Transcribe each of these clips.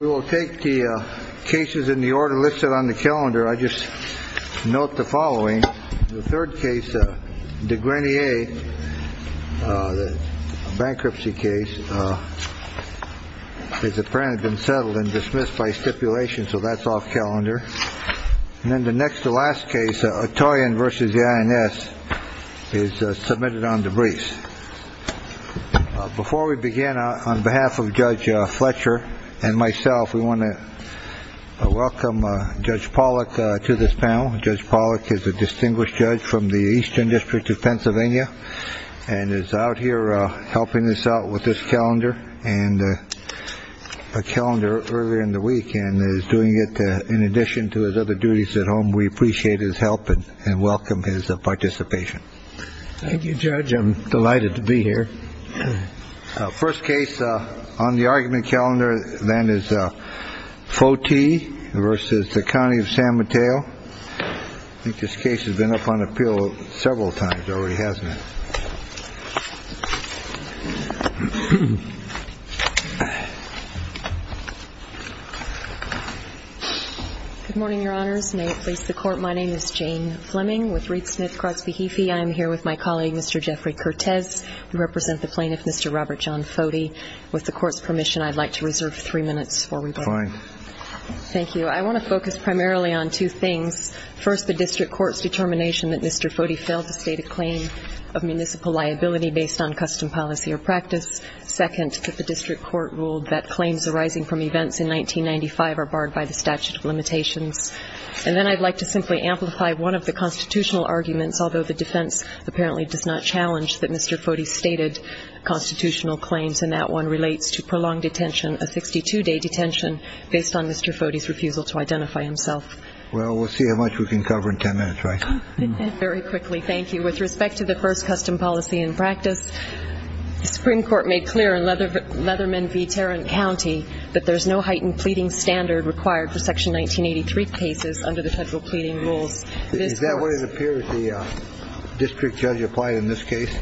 We will take the cases in the order listed on the calendar. I just note the following. The third case, DeGrenier, a bankruptcy case, has apparently been settled and dismissed by stipulation, so that's off calendar. And then the next to last case, Ottoyan v. INS, is submitted on debris. Before we begin, on behalf of Judge Fletcher and myself, we want to welcome Judge Pollack to this panel. Judge Pollack is a distinguished judge from the Eastern District of Pennsylvania and is out here helping us out with this calendar. And a calendar earlier in the week and is doing it in addition to his other duties at home. We appreciate his help and welcome his participation. Thank you, Judge. I'm delighted to be here. First case on the argument calendar then is Foti v. County of San Mateo. I think this case has been up on appeal several times already, hasn't it? Good morning, Your Honors. May it please the Court, my name is Jane Fleming with Reed Smith-Kratzbehefe. I am here with my colleague, Mr. Jeffrey Cortez. We represent the plaintiff, Mr. Robert John Foti. With the Court's permission, I'd like to reserve three minutes for rebuttal. Fine. Thank you. I want to focus primarily on two things. First, the District Court's determination that Mr. Foti failed to state a claim of municipal liability based on custom policy or practice. Second, that the District Court ruled that claims arising from events in 1995 are barred by the statute of limitations. And then I'd like to simply amplify one of the constitutional arguments, although the defense apparently does not challenge that Mr. Foti stated constitutional claims, and that one relates to prolonged detention, a 62-day detention, based on Mr. Foti's refusal to identify himself. Well, we'll see how much we can cover in ten minutes, right? Very quickly, thank you. With respect to the first custom policy and practice, the Supreme Court made clear in Leatherman v. Tarrant County that there's no heightened pleading standard required for Section 1983 cases under the federal pleading rules. Is that what it appears the district judge applied in this case?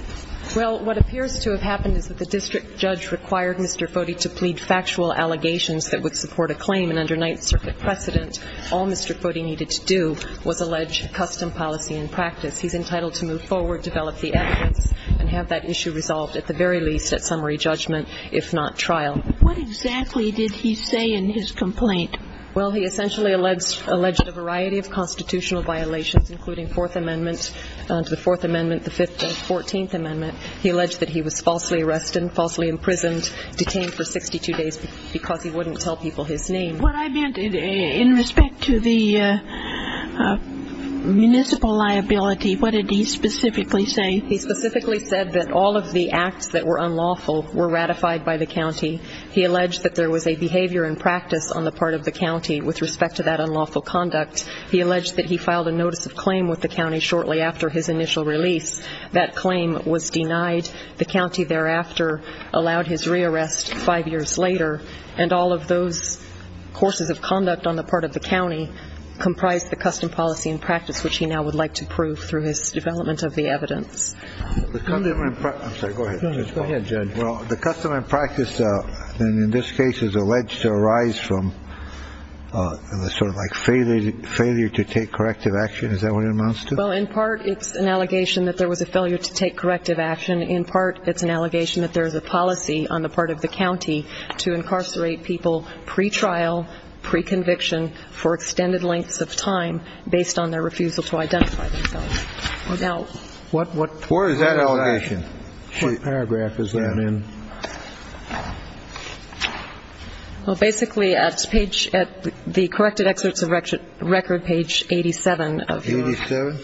Well, what appears to have happened is that the district judge required Mr. Foti to plead factual allegations that would support a claim, and under Ninth Circuit precedent, all Mr. Foti needed to do was allege custom policy and practice. He's entitled to move forward, develop the evidence, and have that issue resolved at the very least at summary judgment, if not trial. What exactly did he say in his complaint? Well, he essentially alleged a variety of constitutional violations, including Fourth Amendment to the Fourth Amendment, the Fifth and Fourteenth Amendment. He alleged that he was falsely arrested and falsely imprisoned, detained for 62 days, because he wouldn't tell people his name. What I meant in respect to the municipal liability, what did he specifically say? He specifically said that all of the acts that were unlawful were ratified by the county. He alleged that there was a behavior and practice on the part of the county with respect to that unlawful conduct. He alleged that he filed a notice of claim with the county shortly after his initial release. That claim was denied. The county thereafter allowed his rearrest five years later, and all of those courses of conduct on the part of the county comprised the custom policy and practice, which he now would like to prove through his development of the evidence. I'm sorry, go ahead. Go ahead, Judge. Well, the custom and practice in this case is alleged to arise from sort of like failure to take corrective action. Is that what it amounts to? Well, in part, it's an allegation that there was a failure to take corrective action. In part, it's an allegation that there is a policy on the part of the county to incarcerate people pre-trial, pre-conviction for extended lengths of time based on their refusal to identify themselves. Where is that allegation? What paragraph is that in? Well, basically at the corrected excerpts of record, page 87. 87?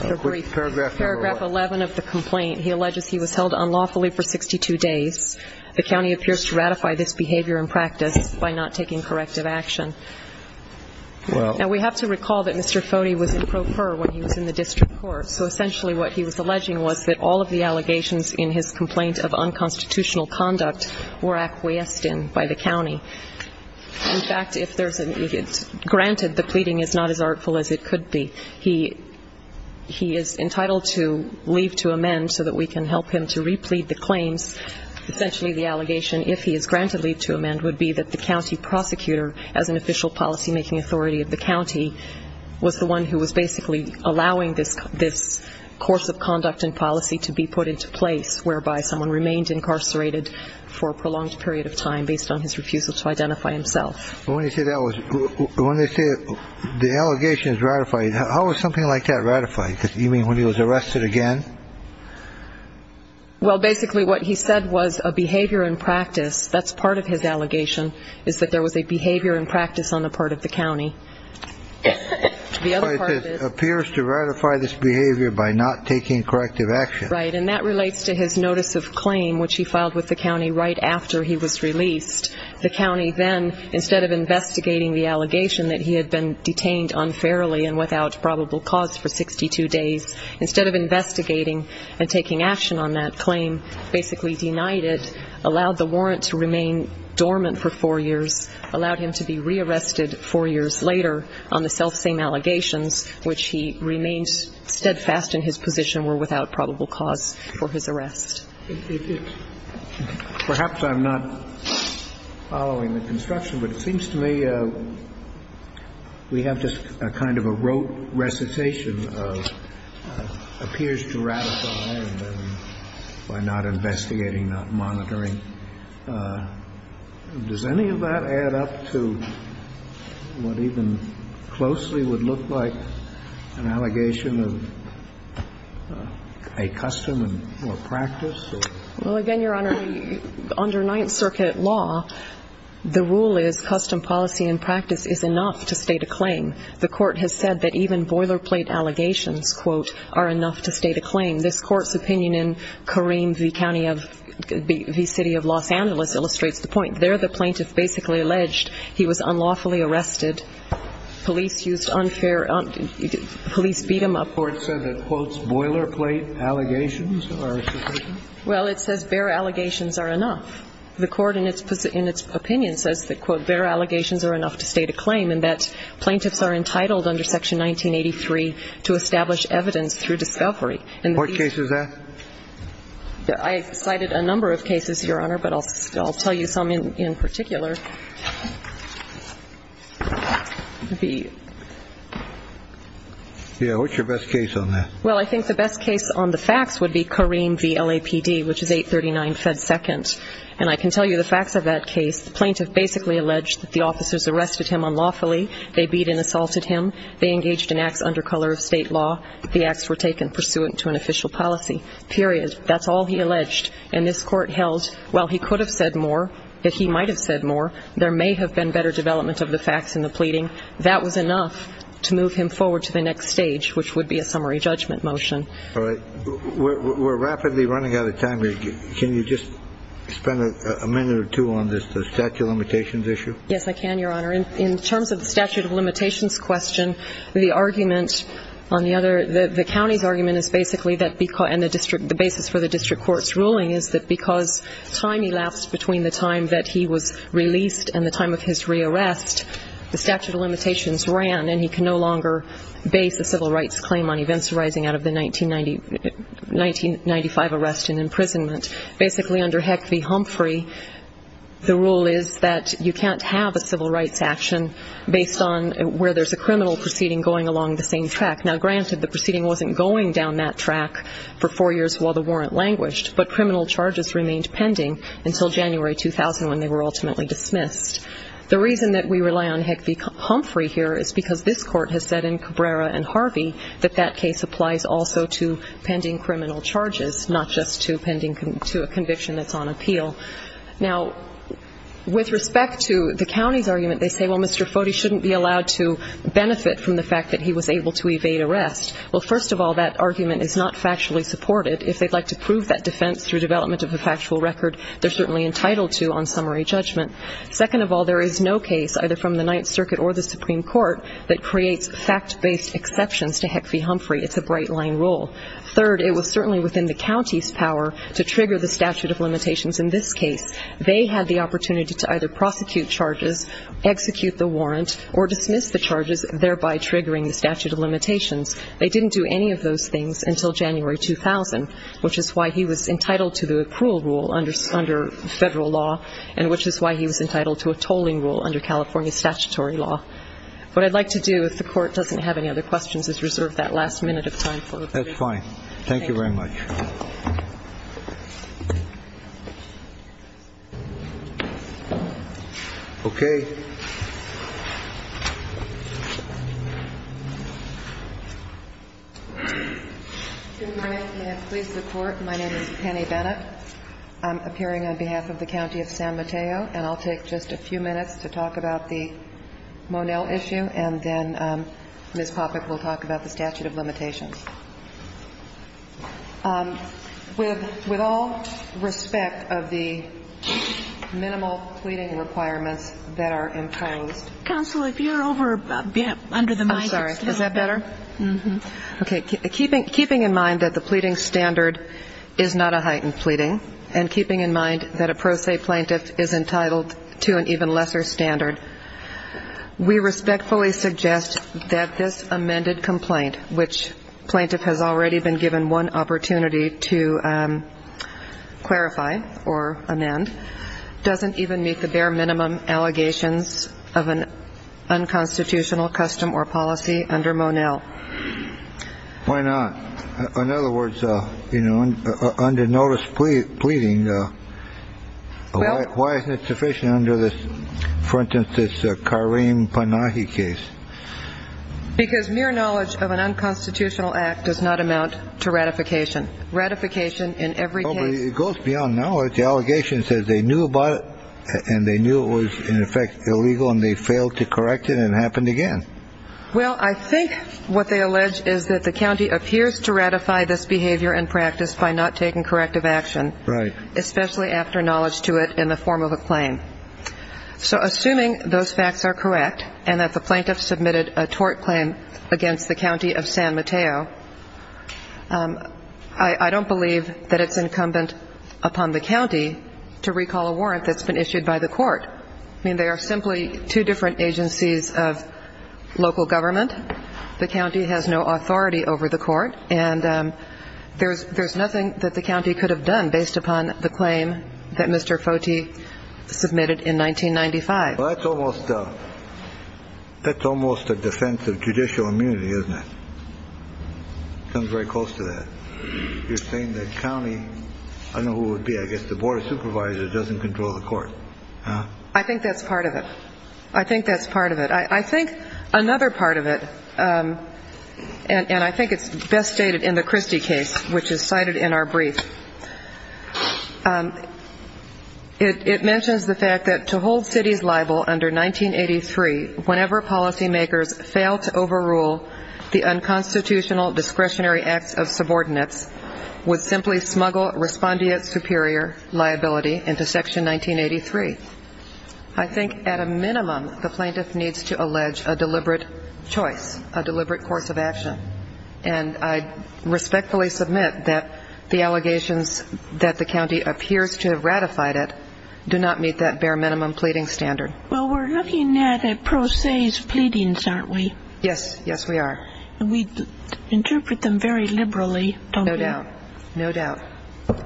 Paragraph 11 of the complaint. He alleges he was held unlawfully for 62 days. The county appears to ratify this behavior and practice by not taking corrective action. Now, we have to recall that Mr. Foti was in pro per when he was in the district court, so essentially what he was alleging was that all of the allegations in his complaint of unconstitutional conduct were acquiesced in by the county. In fact, if there's a ñ granted, the pleading is not as artful as it could be, he is entitled to leave to amend so that we can help him to replete the claims. Essentially the allegation, if he is granted leave to amend, would be that the county prosecutor, as an official policymaking authority of the county, was the one who was basically allowing this course of conduct and policy to be put into place, whereby someone remained incarcerated for a prolonged period of time based on his refusal to identify himself. But when you say that was ñ when they say the allegation is ratified, how is something like that ratified? You mean when he was arrested again? Well, basically what he said was a behavior and practice, that's part of his allegation, is that there was a behavior and practice on the part of the county. But it appears to ratify this behavior by not taking corrective action. Right, and that relates to his notice of claim, which he filed with the county right after he was released. The county then, instead of investigating the allegation that he had been detained unfairly and without probable cause for 62 days, instead of investigating and taking action on that claim, basically denied it, allowed the warrant to remain dormant for four years, allowed him to be rearrested four years later on the selfsame allegations, which he remained steadfast in his position were without probable cause for his arrest. Perhaps I'm not following the construction, but it seems to me we have just a kind of a rote recitation of appears to ratify by not investigating, not monitoring. Does any of that add up to what even closely would look like an allegation of a custom and practice? Well, again, Your Honor, under Ninth Circuit law, the rule is custom, policy, and practice is enough to state a claim. The Court has said that even boilerplate allegations, quote, are enough to state a claim. This Court's opinion in Kareem v. City of Los Angeles illustrates the point. There the plaintiff basically alleged he was unlawfully arrested. Police used unfair ‑‑ police beat him up. This Court said that, quote, boilerplate allegations are sufficient? Well, it says bare allegations are enough. The Court in its opinion says that, quote, bare allegations are enough to state a claim and that plaintiffs are entitled under Section 1983 to establish evidence through discovery. What case is that? I cited a number of cases, Your Honor, but I'll tell you some in particular. Yeah, what's your best case on that? Well, I think the best case on the facts would be Kareem v. LAPD, which is 839 Fed Second. And I can tell you the facts of that case. The plaintiff basically alleged that the officers arrested him unlawfully. They beat and assaulted him. They engaged in acts under color of state law. The acts were taken pursuant to an official policy, period. That's all he alleged. And this Court held, while he could have said more, that he might have said more, there may have been better development of the facts in the pleading, that was enough to move him forward to the next stage, which would be a summary judgment motion. All right. We're rapidly running out of time. Can you just spend a minute or two on the statute of limitations issue? Yes, I can, Your Honor. In terms of the statute of limitations question, the argument on the other, the county's argument is basically that, and the basis for the district court's ruling, is that because time elapsed between the time that he was released and the time of his re-arrest, the statute of limitations ran, and he can no longer base a civil rights claim on events arising out of the 1995 arrest and imprisonment. Basically, under Heck v. Humphrey, the rule is that you can't have a civil rights action based on where there's a criminal proceeding going along the same track. Now, granted, the proceeding wasn't going down that track for four years while the warrant languished, but criminal charges remained pending until January 2000 when they were ultimately dismissed. The reason that we rely on Heck v. Humphrey here is because this court has said in Cabrera and Harvey that that case applies also to pending criminal charges, not just to a conviction that's on appeal. Now, with respect to the county's argument, they say, well, Mr. Foti shouldn't be allowed to benefit from the fact that he was able to evade arrest. Well, first of all, that argument is not factually supported. If they'd like to prove that defense through development of a factual record, they're certainly entitled to on summary judgment. Second of all, there is no case, either from the Ninth Circuit or the Supreme Court, that creates fact-based exceptions to Heck v. Humphrey. It's a bright-line rule. Third, it was certainly within the county's power to trigger the statute of limitations in this case. They had the opportunity to either prosecute charges, execute the warrant, or dismiss the charges, thereby triggering the statute of limitations. They didn't do any of those things until January 2000, which is why he was entitled to the accrual rule under federal law and which is why he was entitled to a tolling rule under California statutory law. What I'd like to do, if the Court doesn't have any other questions, is reserve that last minute of time for a briefing. That's fine. Thank you very much. Okay. Good morning. May I please report? My name is Penny Bennett. I'm appearing on behalf of the County of San Mateo, and I'll take just a few minutes to talk about the Monell issue, and then Ms. Poppeck will talk about the statute of limitations. With all respect of the minimal pleading requirements that are imposed. Counsel, if you're over under the mic. I'm sorry. Is that better? Okay. Keeping in mind that the pleading standard is not a heightened pleading and keeping in mind that a pro se plaintiff is entitled to an even lesser standard, we respectfully suggest that this amended complaint, which plaintiff has already been given one opportunity to clarify or amend, doesn't even meet the bare minimum allegations of an unconstitutional custom or policy under Monell. Why not? In other words, you know, under notice pleading, why isn't it sufficient under this, for instance, this Kareem Panahi case? Because mere knowledge of an unconstitutional act does not amount to ratification. Ratification in every case. It goes beyond knowledge. The allegation says they knew about it and they knew it was in effect illegal and they failed to correct it and it happened again. Well, I think what they allege is that the county appears to ratify this behavior and practice by not taking corrective action. Right. Especially after knowledge to it in the form of a claim. So assuming those facts are correct and that the plaintiff submitted a tort claim against the county of San Mateo, I don't believe that it's incumbent upon the county to recall a warrant that's been issued by the court. I mean, they are simply two different agencies of local government. The county has no authority over the court and there's nothing that the county could have done based upon the claim that Mr. Foti submitted in 1995. Well, that's almost a defense of judicial immunity, isn't it? It comes very close to that. You're saying that county, I don't know who it would be, I guess the board of supervisors doesn't control the court. I think that's part of it. I think that's part of it. I think another part of it, and I think it's best stated in the Christie case, which is cited in our brief, it mentions the fact that to hold cities liable under 1983 whenever policymakers fail to overrule the unconstitutional discretionary acts of subordinates would simply smuggle respondeat superior liability into Section 1983. I think at a minimum the plaintiff needs to allege a deliberate choice, a deliberate course of action. And I respectfully submit that the allegations that the county appears to have ratified it do not meet that bare minimum pleading standard. Well, we're looking at a pro se's pleadings, aren't we? Yes. Yes, we are. And we interpret them very liberally, don't we? No doubt. No doubt.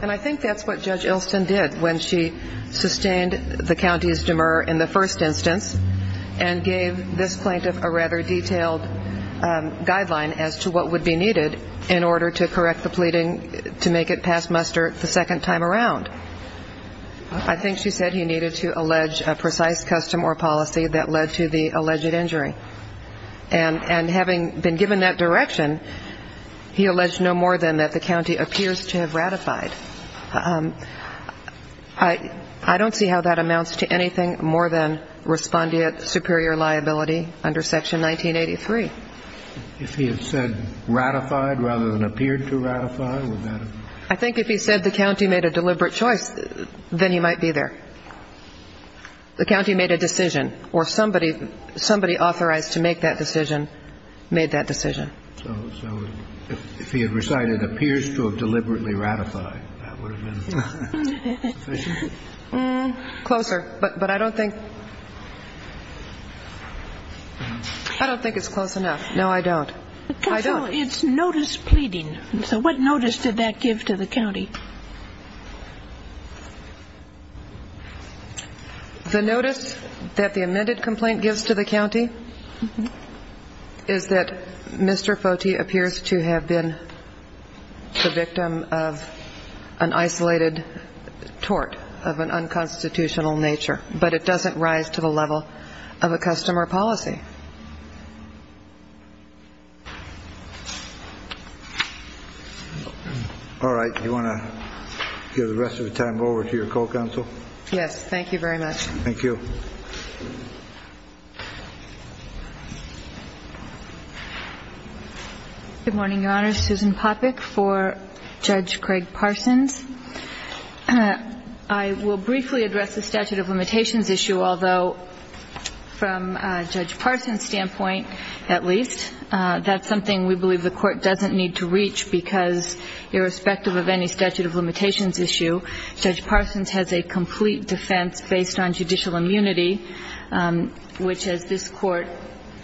And I think that's what Judge Ilston did when she sustained the county's demur in the first instance and gave this plaintiff a rather detailed guideline as to what would be needed in order to correct the pleading to make it pass muster the second time around. I think she said he needed to allege a precise custom or policy that led to the alleged injury. And having been given that direction, he alleged no more than that the county appears to have ratified. I don't see how that amounts to anything more than respondeat superior liability under Section 1983. If he had said ratified rather than appeared to ratify, would that have? I think if he said the county made a deliberate choice, then he might be there. The county made a decision, or somebody authorized to make that decision made that decision. So if he had recited appears to have deliberately ratified, that would have been sufficient? Closer. But I don't think it's close enough. No, I don't. Counsel, it's notice pleading. So what notice did that give to the county? The notice that the amended complaint gives to the county is that Mr. Foti appears to have been the victim of an isolated tort of an unconstitutional nature, but it doesn't rise to the level of a custom or policy. All right. You want to give the rest of the time over to your co-counsel? Yes. Thank you very much. Thank you. Good morning, Your Honor. Susan Popik for Judge Craig Parsons. I will briefly address the statute of limitations issue, although from Judge Parsons, standpoint, at least, that's something we believe the court doesn't need to reach, because irrespective of any statute of limitations issue, Judge Parsons has a complete defense based on judicial immunity, which as this court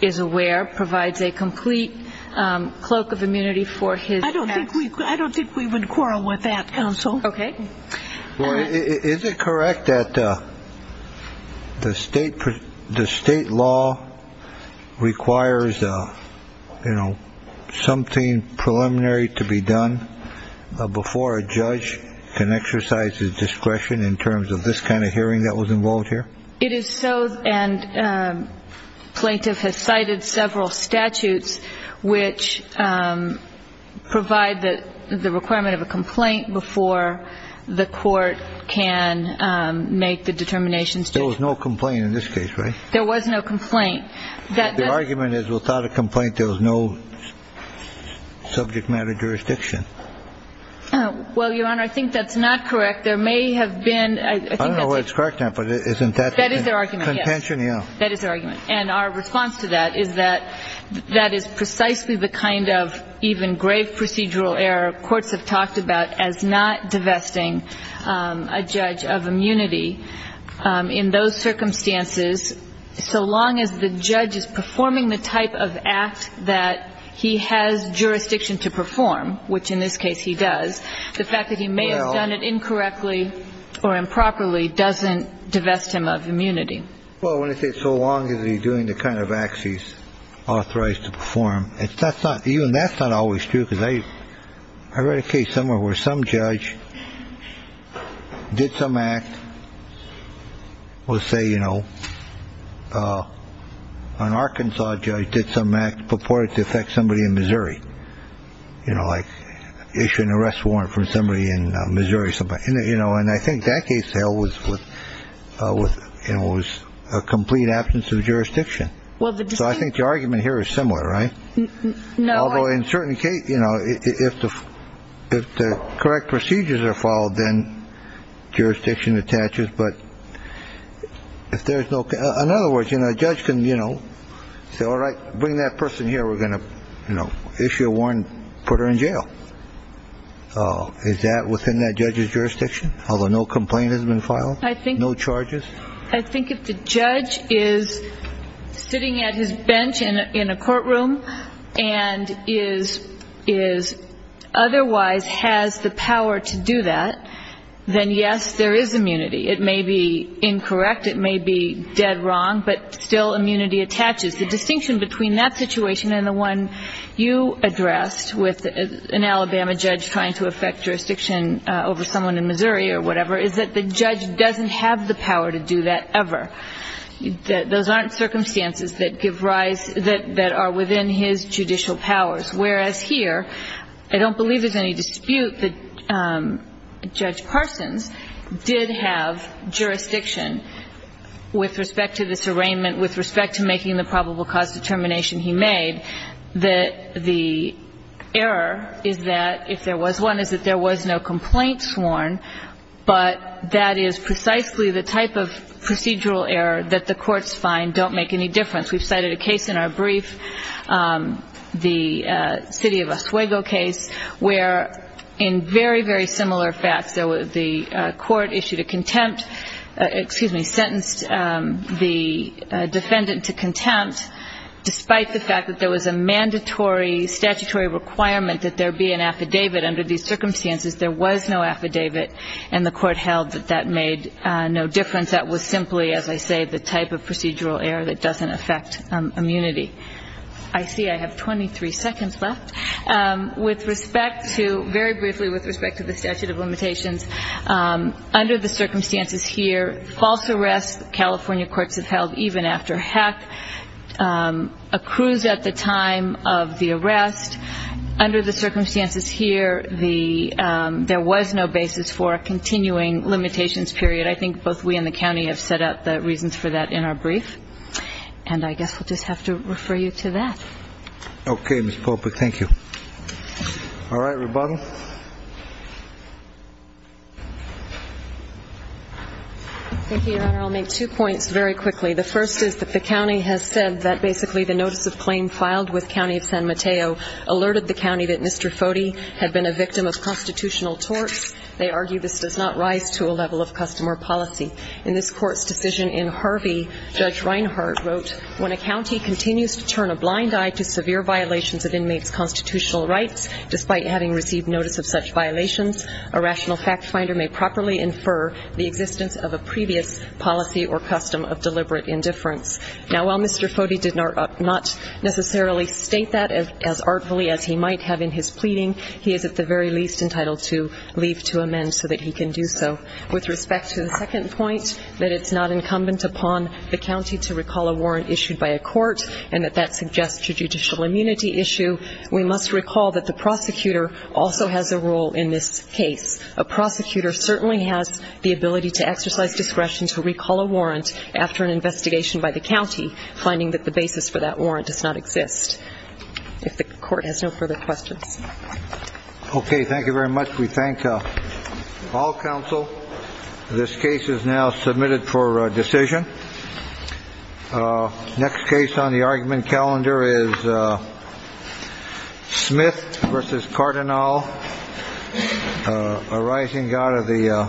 is aware provides a complete cloak of immunity for his. I don't think we would quarrel with that, counsel. Okay. Well, is it correct that the state law requires, you know, something preliminary to be done before a judge can exercise his discretion in terms of this kind of hearing that was involved here? It is so, and plaintiff has cited several statutes which provide the requirement of a complaint before the court can make the determination. There was no complaint in this case, right? There was no complaint. The argument is without a complaint there was no subject matter jurisdiction. Well, Your Honor, I think that's not correct. There may have been. I don't know whether it's correct or not, but isn't that contention? That is their argument, yes. That is their argument. And our response to that is that that is precisely the kind of even grave procedural error courts have talked about as not divesting a judge of immunity in those circumstances, so long as the judge is performing the type of act that he has jurisdiction to perform, which in this case he does. The fact that he may have done it incorrectly or improperly doesn't divest him of immunity. Well, when I say so long as he's doing the kind of acts he's authorized to perform, that's not even that's not always true because I read a case somewhere where some judge did some act. We'll say, you know, an Arkansas judge did some act purported to affect somebody in Missouri, you know, like issue an arrest warrant for somebody in Missouri. So, you know, and I think that case was with it was a complete absence of jurisdiction. Well, I think the argument here is similar, right? Although in certain cases, you know, if the correct procedures are followed, then jurisdiction attaches. But if there is no another word, you know, a judge can, you know, say, all right, bring that person here. We're going to issue a warrant, put her in jail. Is that within that judge's jurisdiction? Although no complaint has been filed. I think no charges. I think if the judge is sitting at his bench in a courtroom and is otherwise has the power to do that, then yes, there is immunity. It may be incorrect. It may be dead wrong. But still immunity attaches. The distinction between that situation and the one you addressed with an Alabama judge trying to affect jurisdiction over someone in Missouri or whatever is that the judge doesn't have the power to do that ever. Those aren't circumstances that give rise, that are within his judicial powers. Whereas here, I don't believe there's any dispute that Judge Parsons did have jurisdiction with respect to this arraignment, with respect to making the probable cause determination he made, that the error is that if there was one, is that there was no complaint sworn, but that is precisely the type of procedural error that the courts find don't make any difference. We've cited a case in our brief, the city of Oswego case, where in very, very similar facts, the court issued a contempt, excuse me, sentenced the defendant to contempt, despite the fact that there was a mandatory statutory requirement that there be an affidavit under these circumstances. There was no affidavit, and the court held that that made no difference. That was simply, as I say, the type of procedural error that doesn't affect immunity. I see I have 23 seconds left. With respect to, very briefly with respect to the statute of limitations, under the circumstances here, false arrest, California courts have held even after hack, accrues at the time of the arrest. Under the circumstances here, there was no basis for a continuing limitations period. I think both we and the county have set out the reasons for that in our brief, and I guess we'll just have to refer you to that. Okay, Ms. Popa, thank you. All right, rebuttal. Thank you, Your Honor. I'll make two points very quickly. The first is that the county has said that basically the notice of claim filed with County of San Mateo alerted the county that Mr. Foti had been a victim of constitutional torts. They argue this does not rise to a level of customer policy. In this court's decision in Harvey, Judge Reinhart wrote, when a county continues to turn a blind eye to severe violations of inmates' constitutional rights, despite having received notice of such violations, a rational fact finder may properly infer the existence of a previous policy or custom of deliberate indifference. Now, while Mr. Foti did not necessarily state that as artfully as he might have in his pleading, he is at the very least entitled to leave to amend so that he can do so. With respect to the second point, that it's not incumbent upon the county to recall a warrant issued by a court and that that suggests a judicial immunity issue, we must recall that the prosecutor also has a role in this case. A prosecutor certainly has the ability to exercise discretion to recall a warrant after an investigation by the county, finding that the basis for that warrant does not exist. If the court has no further questions. Okay, thank you very much. We thank all counsel. This case is now submitted for decision. Next case on the argument calendar is Smith versus Cardinal, a rising god of the.